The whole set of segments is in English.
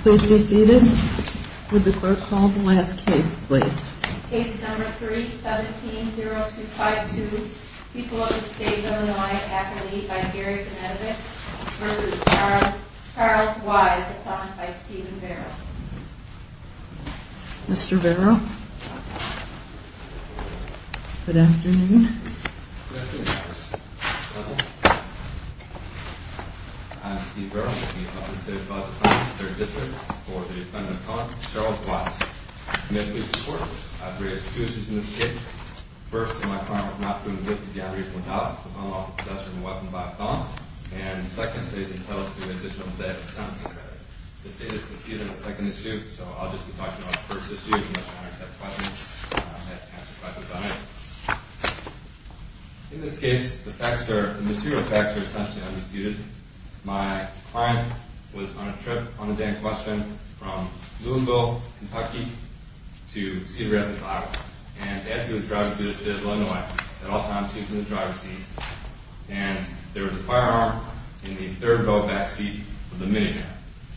Please be seated. Would the clerk call the last case, please? Case number 3-17-0252, People of the State of Illinois, Acme, by Gary Benedict v. Charles Wise, upon by Stephen Vero. Mr. Vero, good afternoon. Good afternoon, Justice. I'm Steve Vero, Acme Public State Attorney, 3rd District, for the defendant, Charles Wise. May I please report? I've raised two issues in this case. First, that my client was not proven guilty of the aggravation of doubt upon the loss of possession of a weapon by a felon. And second, that he's entitled to an additional day of sentencing credit. This case is conceded on the second issue, so I'll just be talking about the first issue as much as I can accept questions. And I'll try to answer questions on it. In this case, the facts are, the material facts are essentially undisputed. My client was on a trip on a day in question from Louisville, Kentucky, to Cedar Rapids, Iowa. And as he was driving through the State of Illinois, at all times, he was in the driver's seat. And there was a firearm in the third row back seat of the minivan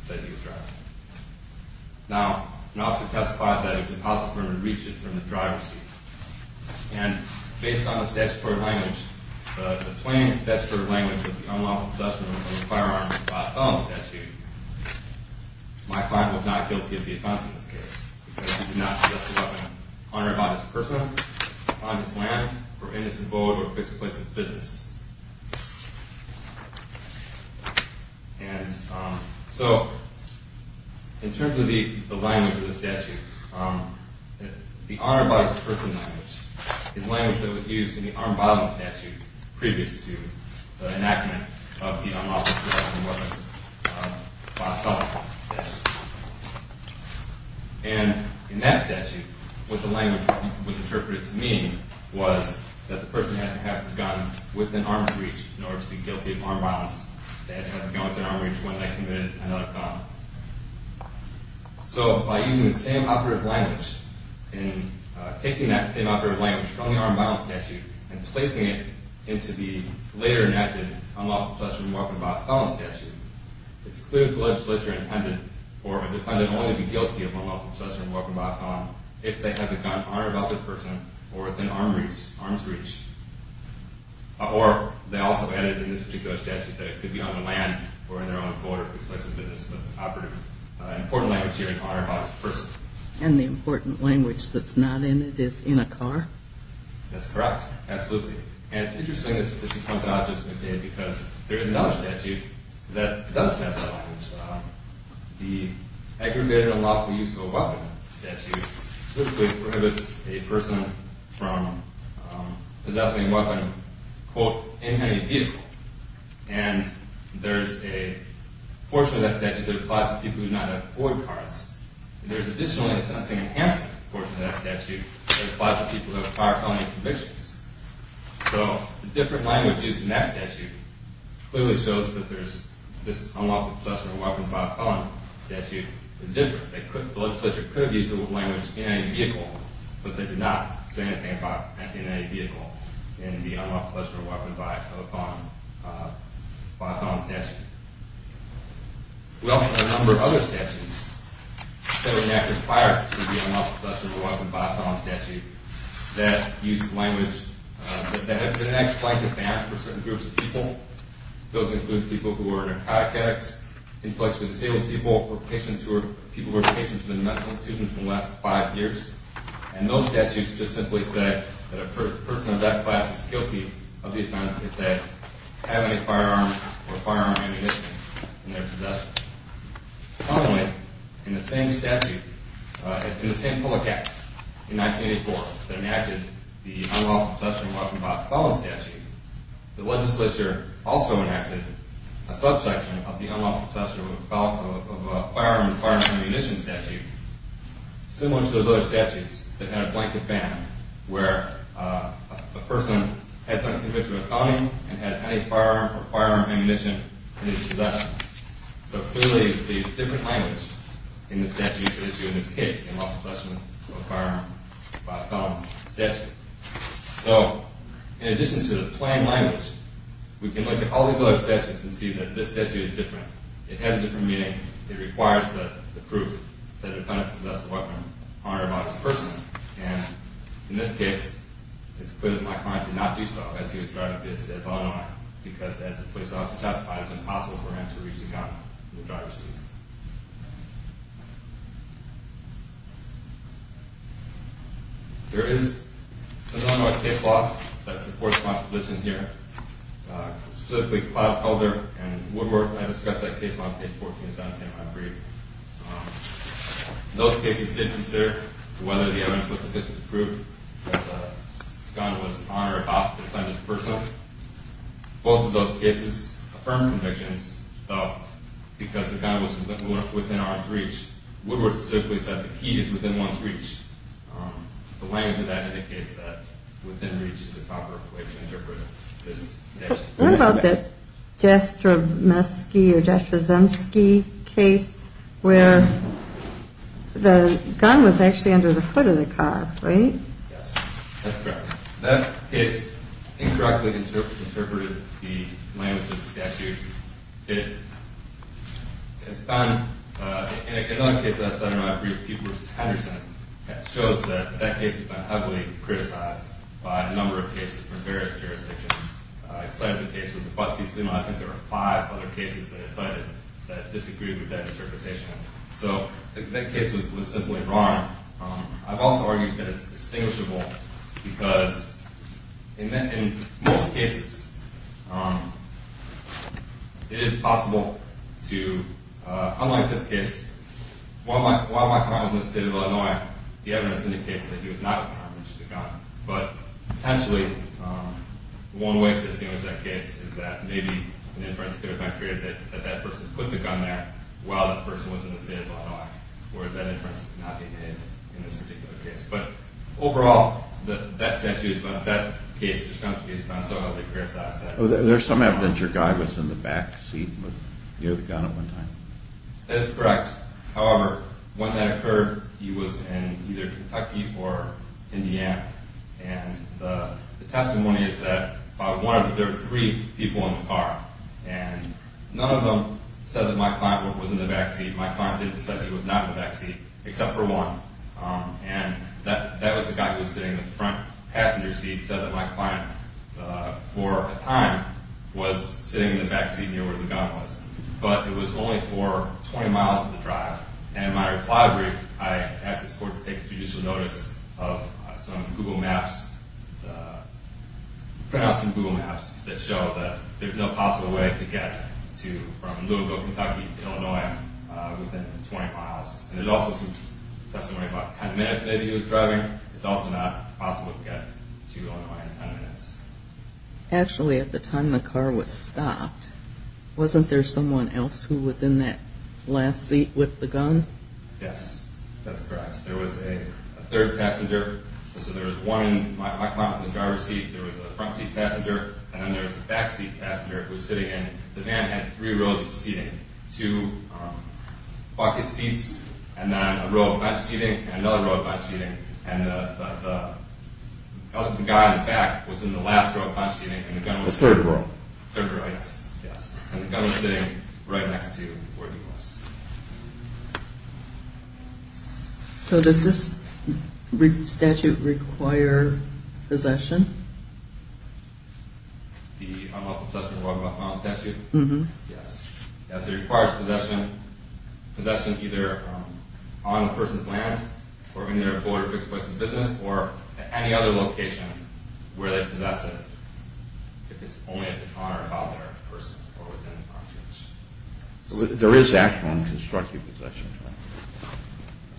that he was driving. Now, an officer testified that it was impossible for him to reach it from the driver's seat. And based on the statutory language, the plain statutory language of the unlawful possession of a firearm by a felon statute, my client was not guilty of the offense in this case, because he did not possess the weapon, honor it by its person, upon its land, or in its abode, or fixed place of business. And so, in terms of the language of the statute, the honor by its person language is language that was used in the armed violence statute previous to the enactment of the unlawful possession of a weapon by a felon statute. And in that statute, what the language was interpreted to mean was that the person had to have the gun within arm's reach in order to be guilty of armed violence. They had to have the gun within arm's reach when they committed another crime. So, by using the same operative language, and taking that same operative language from the armed violence statute, and placing it into the later enacted unlawful possession of a weapon by a felon statute, it's clear that the legislature intended for a defendant only to be guilty of unlawful possession of a weapon by a felon if they have the gun, honor it by its person, or within arm's reach. Or, they also added in this particular statute that it could be on the land, or in their own abode, or fixed place of business, but the operative, important language here is honor it by its person. And the important language that's not in it is in a car? That's correct, absolutely. And it's interesting that you come to object to this, because there is another statute that does have that language. The aggravated unlawful use of a weapon statute specifically prohibits a person from possessing a weapon, quote, in any vehicle. And there's a portion of that statute that applies to people who do not have Ford cars, and there's additionally a sentencing enhancement portion of that statute that applies to people who have car felony convictions. So, the different language used in that statute clearly shows that this unlawful possession of a weapon by a felon statute is different. The legislature could have used the language in any vehicle, but they did not say anything about it in any vehicle in the unlawful possession of a weapon by a felon statute. We also have a number of other statutes that would not require the unlawful possession of a weapon by a felon statute that use the language, that have been actually defined for certain groups of people. Those include people who are narcotic addicts, inflicts with disabled people, or people who are patients in the medical institution for the last five years. And those statutes just simply say that a person of that class is guilty of the offense if they have any firearm or firearm ammunition in their possession. Finally, in the same statute, in the same public act in 1984 that enacted the unlawful possession of a weapon by a felon statute, the legislature also enacted a subsection of the unlawful possession of a firearm or firearm ammunition statute similar to those other statutes that had a blanket ban where a person has been convicted of a felony and has any firearm or firearm ammunition in his possession. So clearly, it's a different language in the statute issued in this case, the unlawful possession of a firearm by a felon statute. So, in addition to the plain language, we can look at all these other statutes and see that this statute is different. It has a different meaning. It requires the proof that a defendant possessed a weapon or firearm against a person. And in this case, it's clear that my client did not do so as he was driving to his state of Illinois because, as the police officer testified, it was impossible for him to reach the gun in the driver's seat. There is a similar case law that supports my position here. Specifically, Clive Calder and Woodworth, I discussed that case law in page 14 of 17 of my brief. Those cases did consider whether the evidence was sufficient to prove that the gun was on or off the defendant's person. Both of those cases affirmed convictions, but because the gun was within our reach, Woodworth specifically said the key is within one's reach. The language of that indicates that within reach is the proper way to interpret this statute. What about the Jastrzemski case where the gun was actually under the foot of the car, right? Yes, that's correct. That case incorrectly interpreted the language of the statute. In another case of that sort in my brief, Peoples-Henderson, it shows that that case has been heavily criticized by a number of cases from various jurisdictions. I cited the case with the butt-seat sumo. I think there were five other cases that I cited that disagreed with that interpretation. So that case was simply wrong. I've also argued that it's distinguishable because in most cases, it is possible to, unlike this case, while my client was in the state of Illinois, the evidence indicates that he was not in conflict with the gun. But potentially, one way to distinguish that case is that maybe an inference could have been created that that person put the gun there while that person was in the state of Illinois, whereas that inference could not be made in this particular case. But overall, that statute, that case, is not so heavily criticized. There's some evidence your guy was in the back seat near the gun at one time. That is correct. However, when that occurred, he was in either Kentucky or Indiana. And the testimony is that there were three people in the car. And none of them said that my client was in the back seat. My client said he was not in the back seat, except for one. And that was the guy who was sitting in the front passenger seat said that my client, for a time, was sitting in the back seat near where the gun was. But it was only for 20 miles of the drive. And in my reply brief, I asked this court to take judicial notice of some Google Maps, some Google Maps that show that there's no possible way to get from Louisville, Kentucky to Illinois within 20 miles. And there's also some testimony about 10 minutes maybe he was driving. It's also not possible to get to Illinois in 10 minutes. Actually, at the time the car was stopped, wasn't there someone else who was in that last seat with the gun? Yes, that's correct. There was a third passenger. So there was one in my client's driver's seat. There was a front seat passenger. And then there was a back seat passenger who was sitting in. The van had three rows of seating, two bucket seats, and then a row of bench seating, and another row of bench seating. And the guy in the back was in the last row of bench seating and the gun was... The third row. The third row, yes. And the gun was sitting right next to where he was. So does this statute require possession? The Unlawful Possession of a Walk-On Statute? Yes. Yes, it requires possession either on a person's land or in their afforded or exploited business, or at any other location where they possess it, if it's only at the car, about their person, or within the property. There is actual and constructive possession, correct?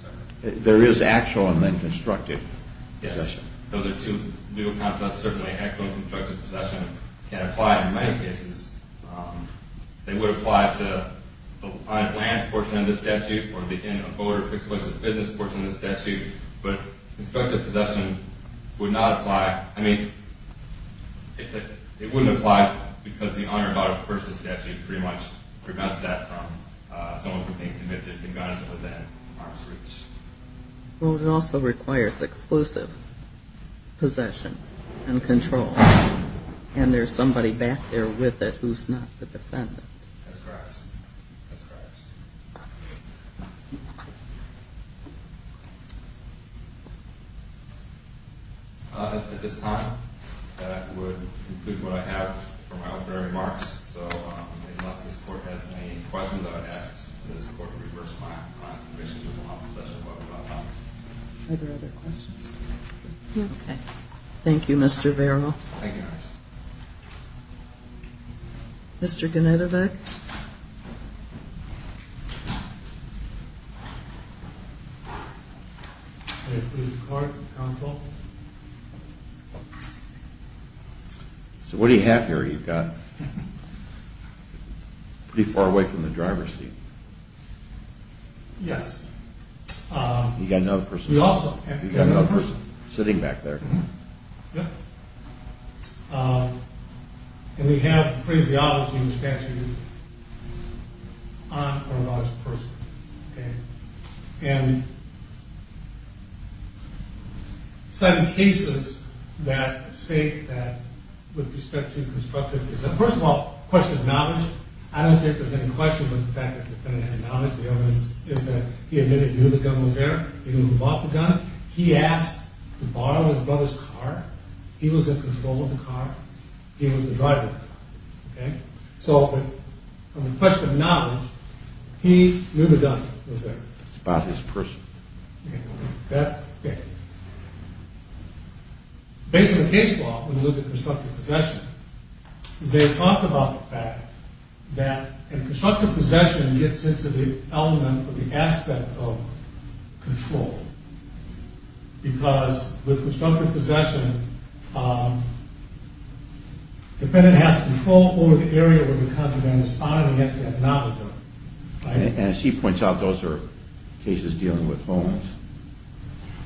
I'm sorry? There is actual and then constructive possession. Yes, those are two new concepts. Certainly, actual and constructive possession can apply in many cases. They would apply to the client's land portion of the statute or in an afforded or exploited business portion of the statute, but constructive possession would not apply. I mean, it wouldn't apply because the Honor About a Person Statute pretty much prevents that from someone being convicted and guns within arm's reach. Well, it also requires exclusive possession and control. And there's somebody back there with it who's not the defendant. That's correct. That's correct. At this time, that would conclude what I have for my opening remarks. So, unless this Court has any questions, I would ask this Court to reverse my comments in relation to the law possession of a property by Congress. Are there other questions? No. Thank you, Mr. Vero. Thank you, Your Honor. Mr. Genetovic? Mr. Genetovic? So, what do you have here? You've got it pretty far away from the driver's seat. Yes. You've got another person sitting back there. Yep. And we have the phraseology in the statute on Honor About a Person. Okay. And some cases that say that, with respect to constructive possession, first of all, a question of knowledge. I don't think there's any question of the fact that the defendant had knowledge. The evidence is that he admitted he knew the gun was there. He knew who bought the gun. He asked to borrow his brother's car. He was in control of the car. He was the driver. Okay? So, on the question of knowledge, he knew the gun was there. It's about his person. Okay. That's, okay. Based on the case law, when we look at constructive possession, they talk about the fact that, and constructive possession gets into the element or the aspect of control. Because, with constructive possession, the defendant has control over the area where the contraband is found, and he has to have knowledge of it. Right? And as he points out, those are cases dealing with homes.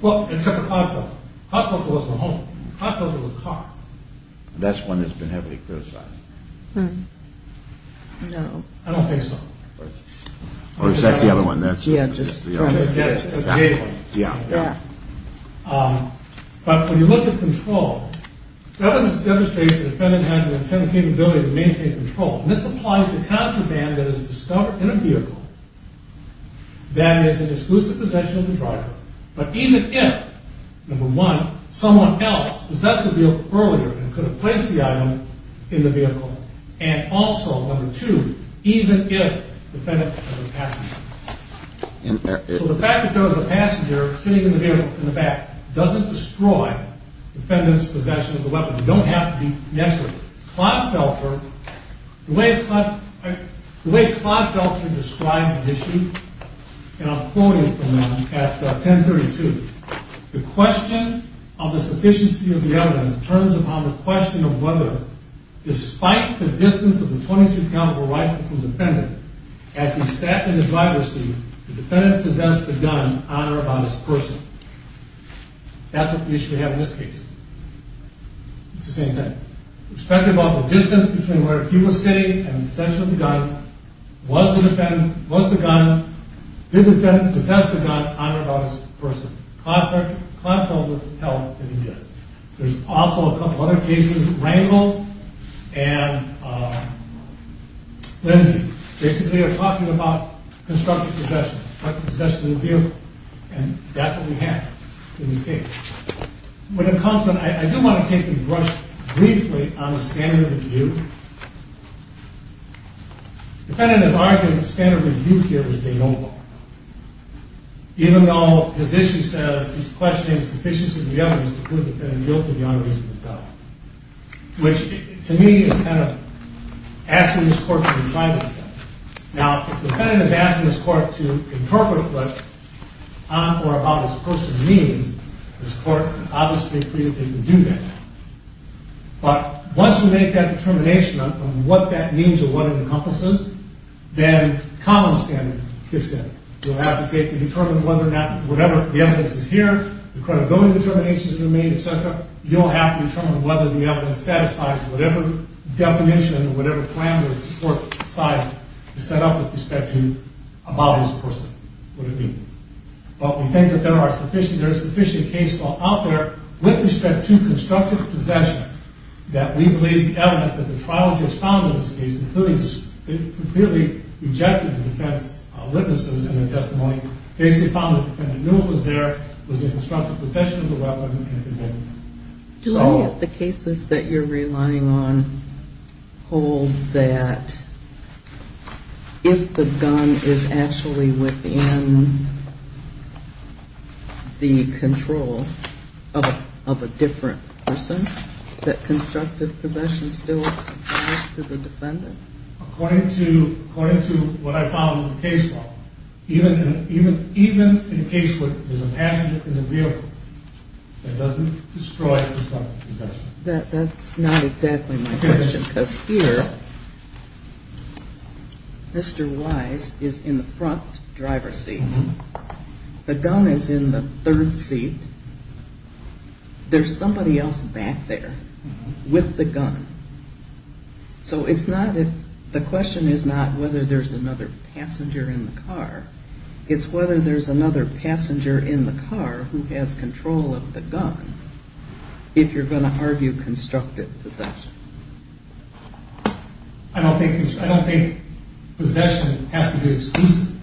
Well, except a car kill. A car kill wasn't a home. A car kill was a car. That's one that's been heavily criticized. Hmm. No. I don't think so. Or is that the other one? Yeah, just trying to get at it. Exactly. Yeah. But when you look at control, evidence demonstrates the defendant has an intended capability to maintain control. And this applies to contraband that is discovered in a vehicle that is in exclusive possession of the driver, but even if, number one, someone else possessed the vehicle earlier and could have placed the item in the vehicle, and also, number two, even if the defendant was a passenger. So the fact that there was a passenger sitting in the back doesn't destroy the defendant's possession of the weapon. You don't have to be necessary. Clodfelter, the way Clodfelter described the issue, and I'm quoting from him at 10.32, the question of the sufficiency of the evidence turns upon the question of whether, despite the distance of the .22 caliber rifle from the defendant, as he sat in the driver's seat, the defendant possessed the gun on or about his person. That's what the issue we have in this case. It's the same thing. Respective of the distance between where he was sitting and the possession of the gun, was the defendant, was the gun, did the defendant possess the gun on or about his person? Clodfelter held that he did. There's also a couple other cases, Rangel and Lindsey. Basically, they're talking about constructive possession. Constructive possession of the vehicle. And that's what we have in this case. When it comes to, I do want to take the brush briefly on the standard of view. The defendant is arguing the standard of view here is they don't. Even though his issue says he's questioning the sufficiency of the evidence to prove the defendant guilty of the unreasonable felon. Which, to me, is kind of asking this court to retry this case. Now, if the defendant is asking this court to interpret what on or about his person means, this court is obviously free to do that. But, once you make that determination on what that means or what it encompasses, then common standard fits in. You'll advocate to determine whether or not, whatever the evidence is here, the credibility determinations you made, etc., you'll have to determine whether the evidence satisfies whatever definition or whatever plan the court has set up with respect to about his person. What it means. But, we think that there are sufficient cases out there with respect to constructive possession that we believe the evidence that the trial judge found in this case, including the clearly rejected defense witnesses in their testimony, basically found that the defendant knew it was there, was in constructive possession of the weapon, and could hold it. Do any of the cases that you're relying on hold that if the gun is actually within the control of a different person, that constructive possession still applies to the defendant? According to what I found in the case law, even in a case where there's a passenger in the vehicle, that doesn't destroy the constructive possession. That's not exactly my question, because here, Mr. Wise is in the front driver's seat. The gun is in the third seat. There's somebody else back there with the gun. So, the question is not whether there's another passenger in the car. It's whether there's another passenger in the car who has control of the gun, if you're going to argue constructive possession. I don't think possession has to be exclusive.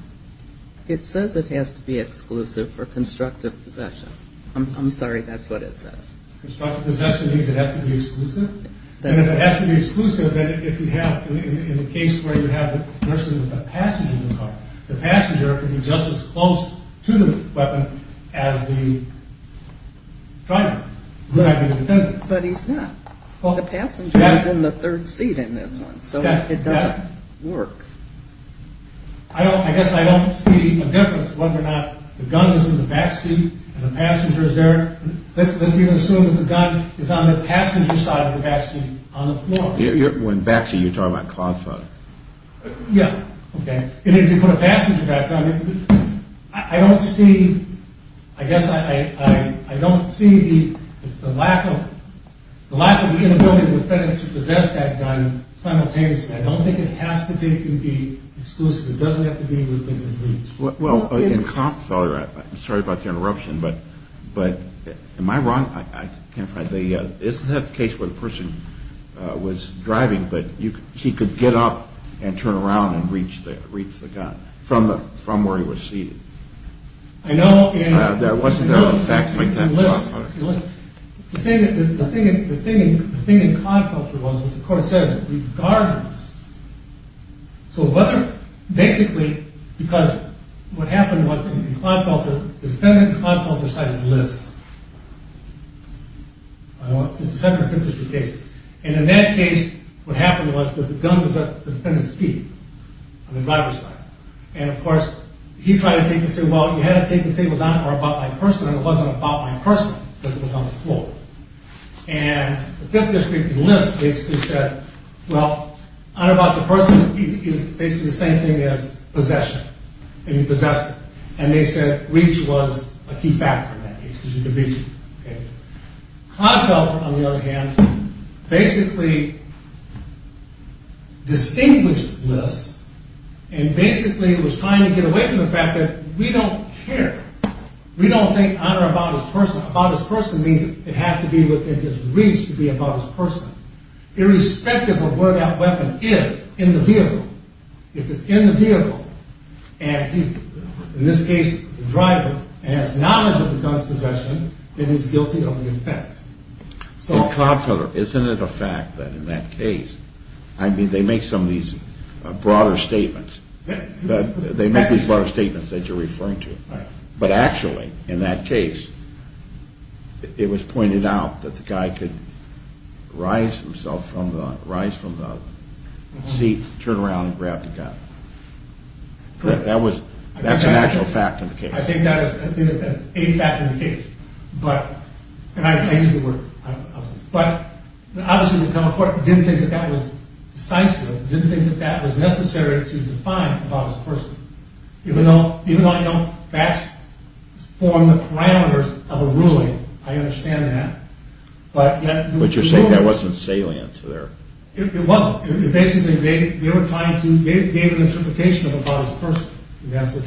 It says it has to be exclusive for constructive possession. I'm sorry, that's what it says. Constructive possession means it has to be exclusive? And if it has to be exclusive, then if you have, in the case where you have the person with the passenger in the car, the passenger can be just as close to the weapon as the driver, who might be the defendant. But he's not. The passenger is in the third seat in this one. So, it doesn't work. I guess I don't see a difference whether or not the gun is in the back seat, and the passenger is there. Let's even assume that the gun is on the passenger side of the back seat, on the floor. When you say back seat, you're talking about cloud flight. Yeah, okay. And if you put a passenger back on, I don't see, I guess I don't see the lack of, the lack of the inability of the defendant to possess that gun simultaneously. I don't think it has to be exclusive. It doesn't have to be within the reach. Well, in cod culture, I'm sorry about the interruption, but, am I wrong? I can't find the, isn't that the case where the person was driving, but he could get up and turn around and reach the gun, from where he was seated? I know. There wasn't a back seat. Listen, listen. The thing in cod culture was, what the court says, regardless. So whether, basically, because, what happened was, in cod culture, the defendant in cod culture cited list. It's a separate district case. And in that case, what happened was, that the gun was at the defendant's feet, on the driver's side. And of course, he tried to take it and say, well, you had to take it and say it was on, or about my person, and it wasn't about my person, because it was on the floor. And the fifth district in list basically said, well, on or about the person is basically the same thing as possession. And he possessed it. And they said reach was a key factor in that case, because you could reach it. Cod culture, on the other hand, basically, distinguished list, and basically, was trying to get away from the fact that, we don't care. We don't think on or about his person. About his person means it has to be within his reach to be about his person. Irrespective of where that weapon is, in the vehicle. If it's in the vehicle, and he's, in this case, the driver, and has knowledge of the gun's possession, then he's guilty of the offense. So, Isn't it a fact that in that case, I mean, they make some of these broader statements. They make these broader statements that you're referring to. But actually, in that case, it was pointed out that the guy could rise himself from the seat, turn around, and grab the gun. That's an actual fact in the case. I think that's a fact in the case. But, obviously the federal court didn't think that that was decisive. Didn't think that that was necessary to define about his person. Even though I know facts form the parameters of a ruling. I understand that. But you're saying that wasn't salient? It wasn't. Basically, they were trying to give an interpretation about his person. That's it.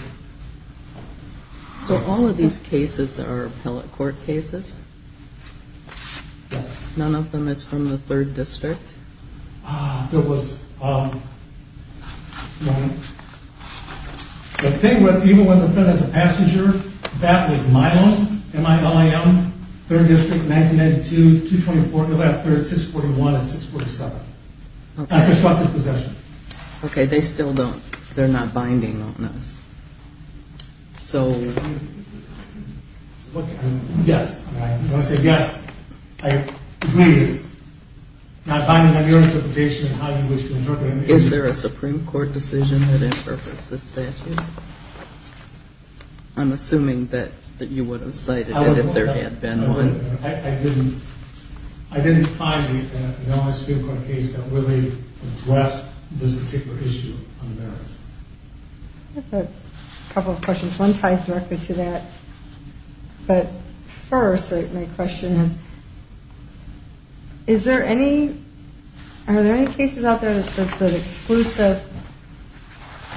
So all of these cases are appellate court cases? None of them is from the 3rd District? Ah, there was, um, no. The thing with even when they're put as a passenger, that was Milo, M-I-L-O-M, 3rd District, 1992, 224, 641, and 647. Okay. Okay, they still don't, they're not binding on us. So... Yes. When I say yes, I agree with you. Not binding on your interpretation, on how you wish to interpret it. Is there a Supreme Court decision that interprets the statute? I'm assuming that you would have cited it if there had been one. I didn't find an L.A. Supreme Court case that really addressed this particular issue on the merits. I have a couple of questions. One ties directly to that. But first, my question is, is there any, are there any cases out there that says that exclusive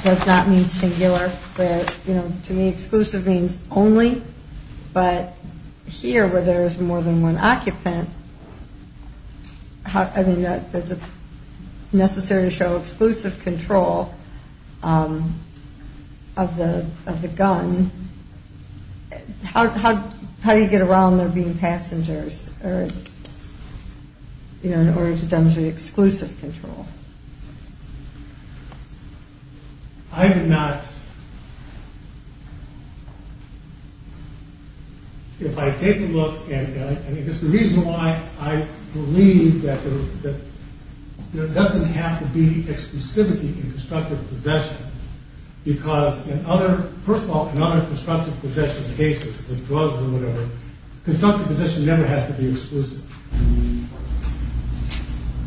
does not mean singular, that, you know, to me, exclusive means only, but here where there is more than one occupant, how, I mean, does it necessary to show exclusive control of the gun? How do you get around there being passengers? Or, you know, in order to demonstrate exclusive control? I did not If I take a look, and it is the reason why I believe that there doesn't have to be exclusivity in constructive possession because in other, first of all, in other constructive possession cases, with drugs or whatever, constructive possession never has to be exclusive.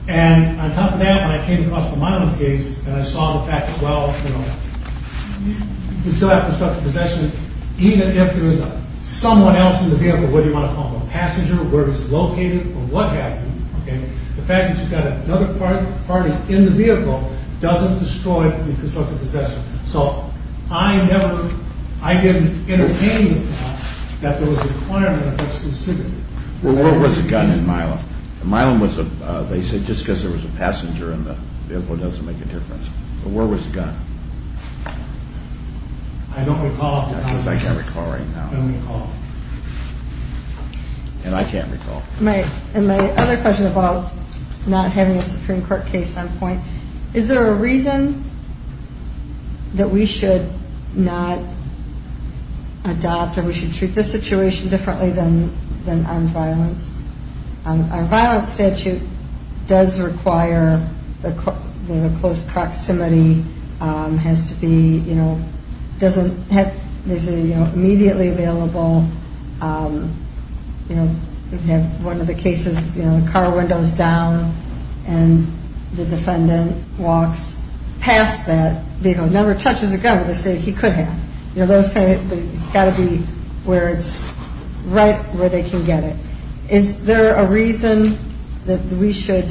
when I came across the Milam case, and I saw the fact that, well, you can still have constructive possession even if there is someone else in the vehicle, whether you want to call him a passenger, where he is located, or what have you, the fact that you've got another party in the vehicle doesn't destroy the constructive possession. So I never, I didn't entertain the thought that there was a requirement of exclusivity. Well, where was the gun in Milam? Milam was, they said, just because there was a passenger in the vehicle doesn't make a difference. But where was the gun? I don't recall. Because I can't recall right now. I don't recall. And I can't recall. And my other question about not having a Supreme Court case on point, is there a reason that we should not adopt or we should treat this situation differently than armed violence? A violent statute does require that close proximity has to be, you know, doesn't have, you know, immediately available. You know, you have one of the cases, you know, the car window is down and the defendant walks past that vehicle, never touches a gun, but they say he could have. You know, those kind of, it's got to be where it's right, where they can get it. Is there a reason that we should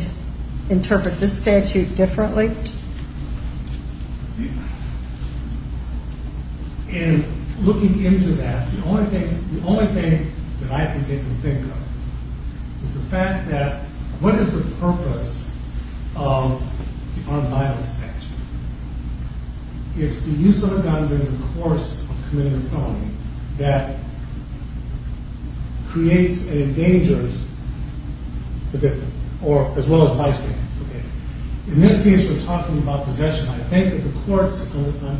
interpret this statute differently? And looking into that, the only thing that I think they can think of is the fact that what is the purpose of the armed violence statute? It's the use of a gun during the course of committing a felony that creates and endangers the defendant as well as bystanders. In this case, we're talking about possession. I think that the court's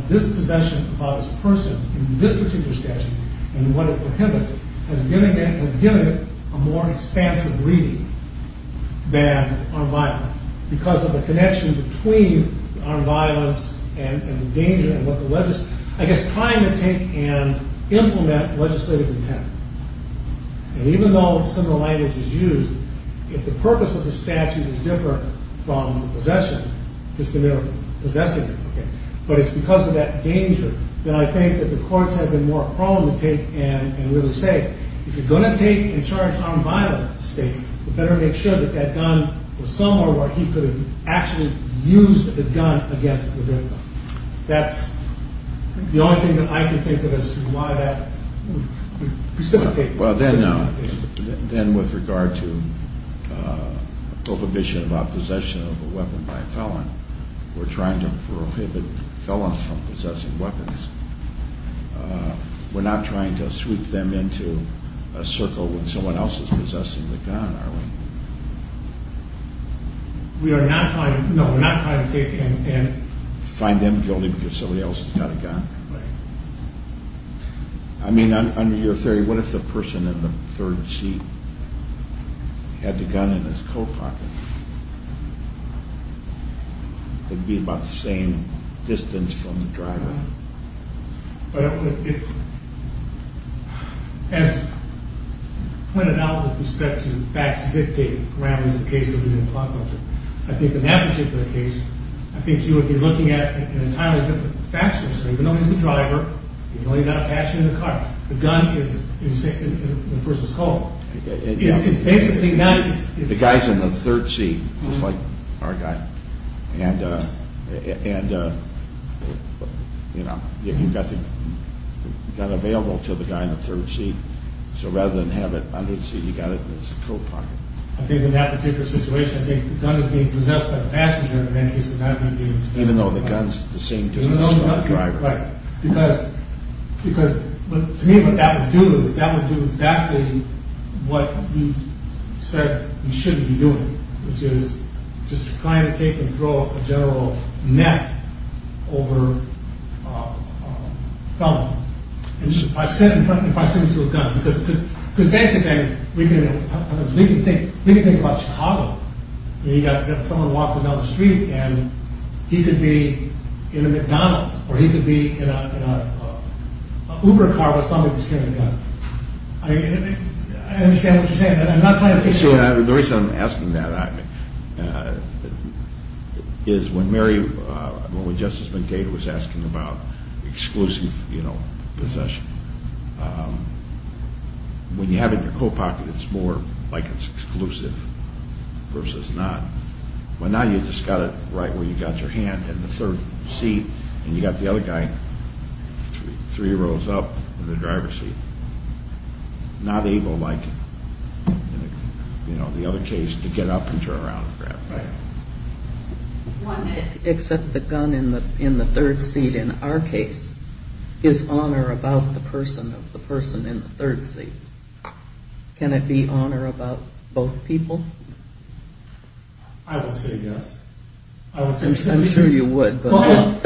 dispossession about a person in this particular statute and what it prohibits has given it a more expansive reading than armed violence because of the connection between armed violence and the danger and what the legis... I guess trying to take and implement legislative intent. And even though similar language is used, if the purpose of the statute is different from possession, it's because of that danger that I think that the courts have been more prone to take and really say, if you're going to take and charge armed violence to the state, you better make sure that that gun was somewhere where he could have actually used the gun against the victim. That's the only thing that I can think of as why that precipitates... Then with regard to prohibition of possession of a weapon by a felon, we're trying to prohibit felons from possessing weapons. We're not trying to sweep them into a circle when someone else is possessing the gun, are we? No, we're not trying to take and find them guilty because somebody else has got a gun. I mean, on your theory, what if the person in the third seat had the gun in his coat pocket? It would be about the same distance from the driver. But I don't think it... As when it now with respect to facts dictate around the case that we've been talking about, I think in that particular case, I think you would be looking at it in entirely different factors. Even though he's the driver, you've only got a patch in the car, the gun is in the person's coat. It's basically not... The guy's in the third seat, just like our guy, and you know, you've got the gun available to the guy in the third seat, so rather than have it under the seat, you've got it in his coat pocket. I think in that particular situation, the gun is being possessed by the passenger and in that case it's not being possessed by the driver. Even though the gun's the same distance from the driver. Right. To me, what that would do is that would do exactly what you said you shouldn't be doing, which is just trying to take and throw a general net over felons. By sitting to a gun, because basically we can think about Chicago and you've got a felon walking down the street and he could be in a McDonald's or he could be in a Uber car with somebody that's carrying a gun. I understand what you're saying. The reason I'm asking that is when Mary, when Justice McDade was asking about exclusive possession, when you have it in your coat pocket it's more like it's exclusive versus not. Well now you've just got it right where you've got your hand in the third seat and you've got the other guy three rows up in the driver's seat. Not able like in the other case to get up and turn around and grab a gun. Except the gun in the third seat in our case is honor about the person in the third seat. Can it be honor about both people? I would say yes. I'm sure you would. But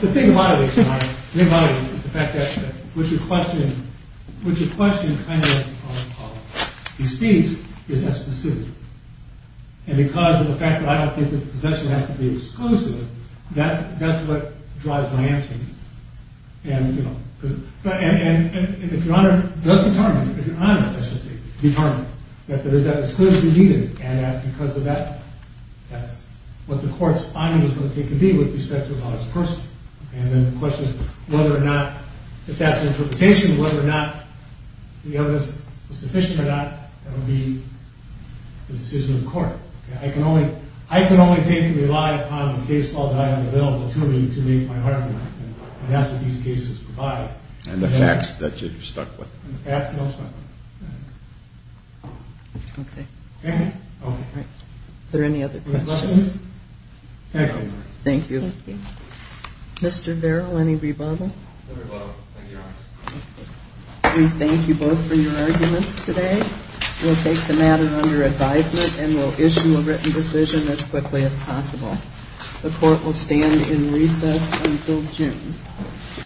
the thing about it is the fact that what you're questioning kind of is that specific and because of the fact that I don't think that the possession has to be exclusive that's what drives my answer to you. And if your honor does determine that it's exclusively and because of that that's what the court's finding is going to take to be with respect to a lawless person. And then the question is whether or not if that's the interpretation, whether or not the evidence is sufficient or not that will be the decision of the court. I can only take and rely upon the case law that I have available to me to make my argument and that's what these cases provide. And the facts that you're stuck with. And the facts that I'm stuck with. Okay. All right. Are there any other questions? Thank you. Mr. Verrill, any rebuttal? No rebuttal. Thank you, your honor. We thank you both for your arguments today. We'll take the matter under advisement and we'll issue a written decision as quickly as possible. The court will stand in recess until June.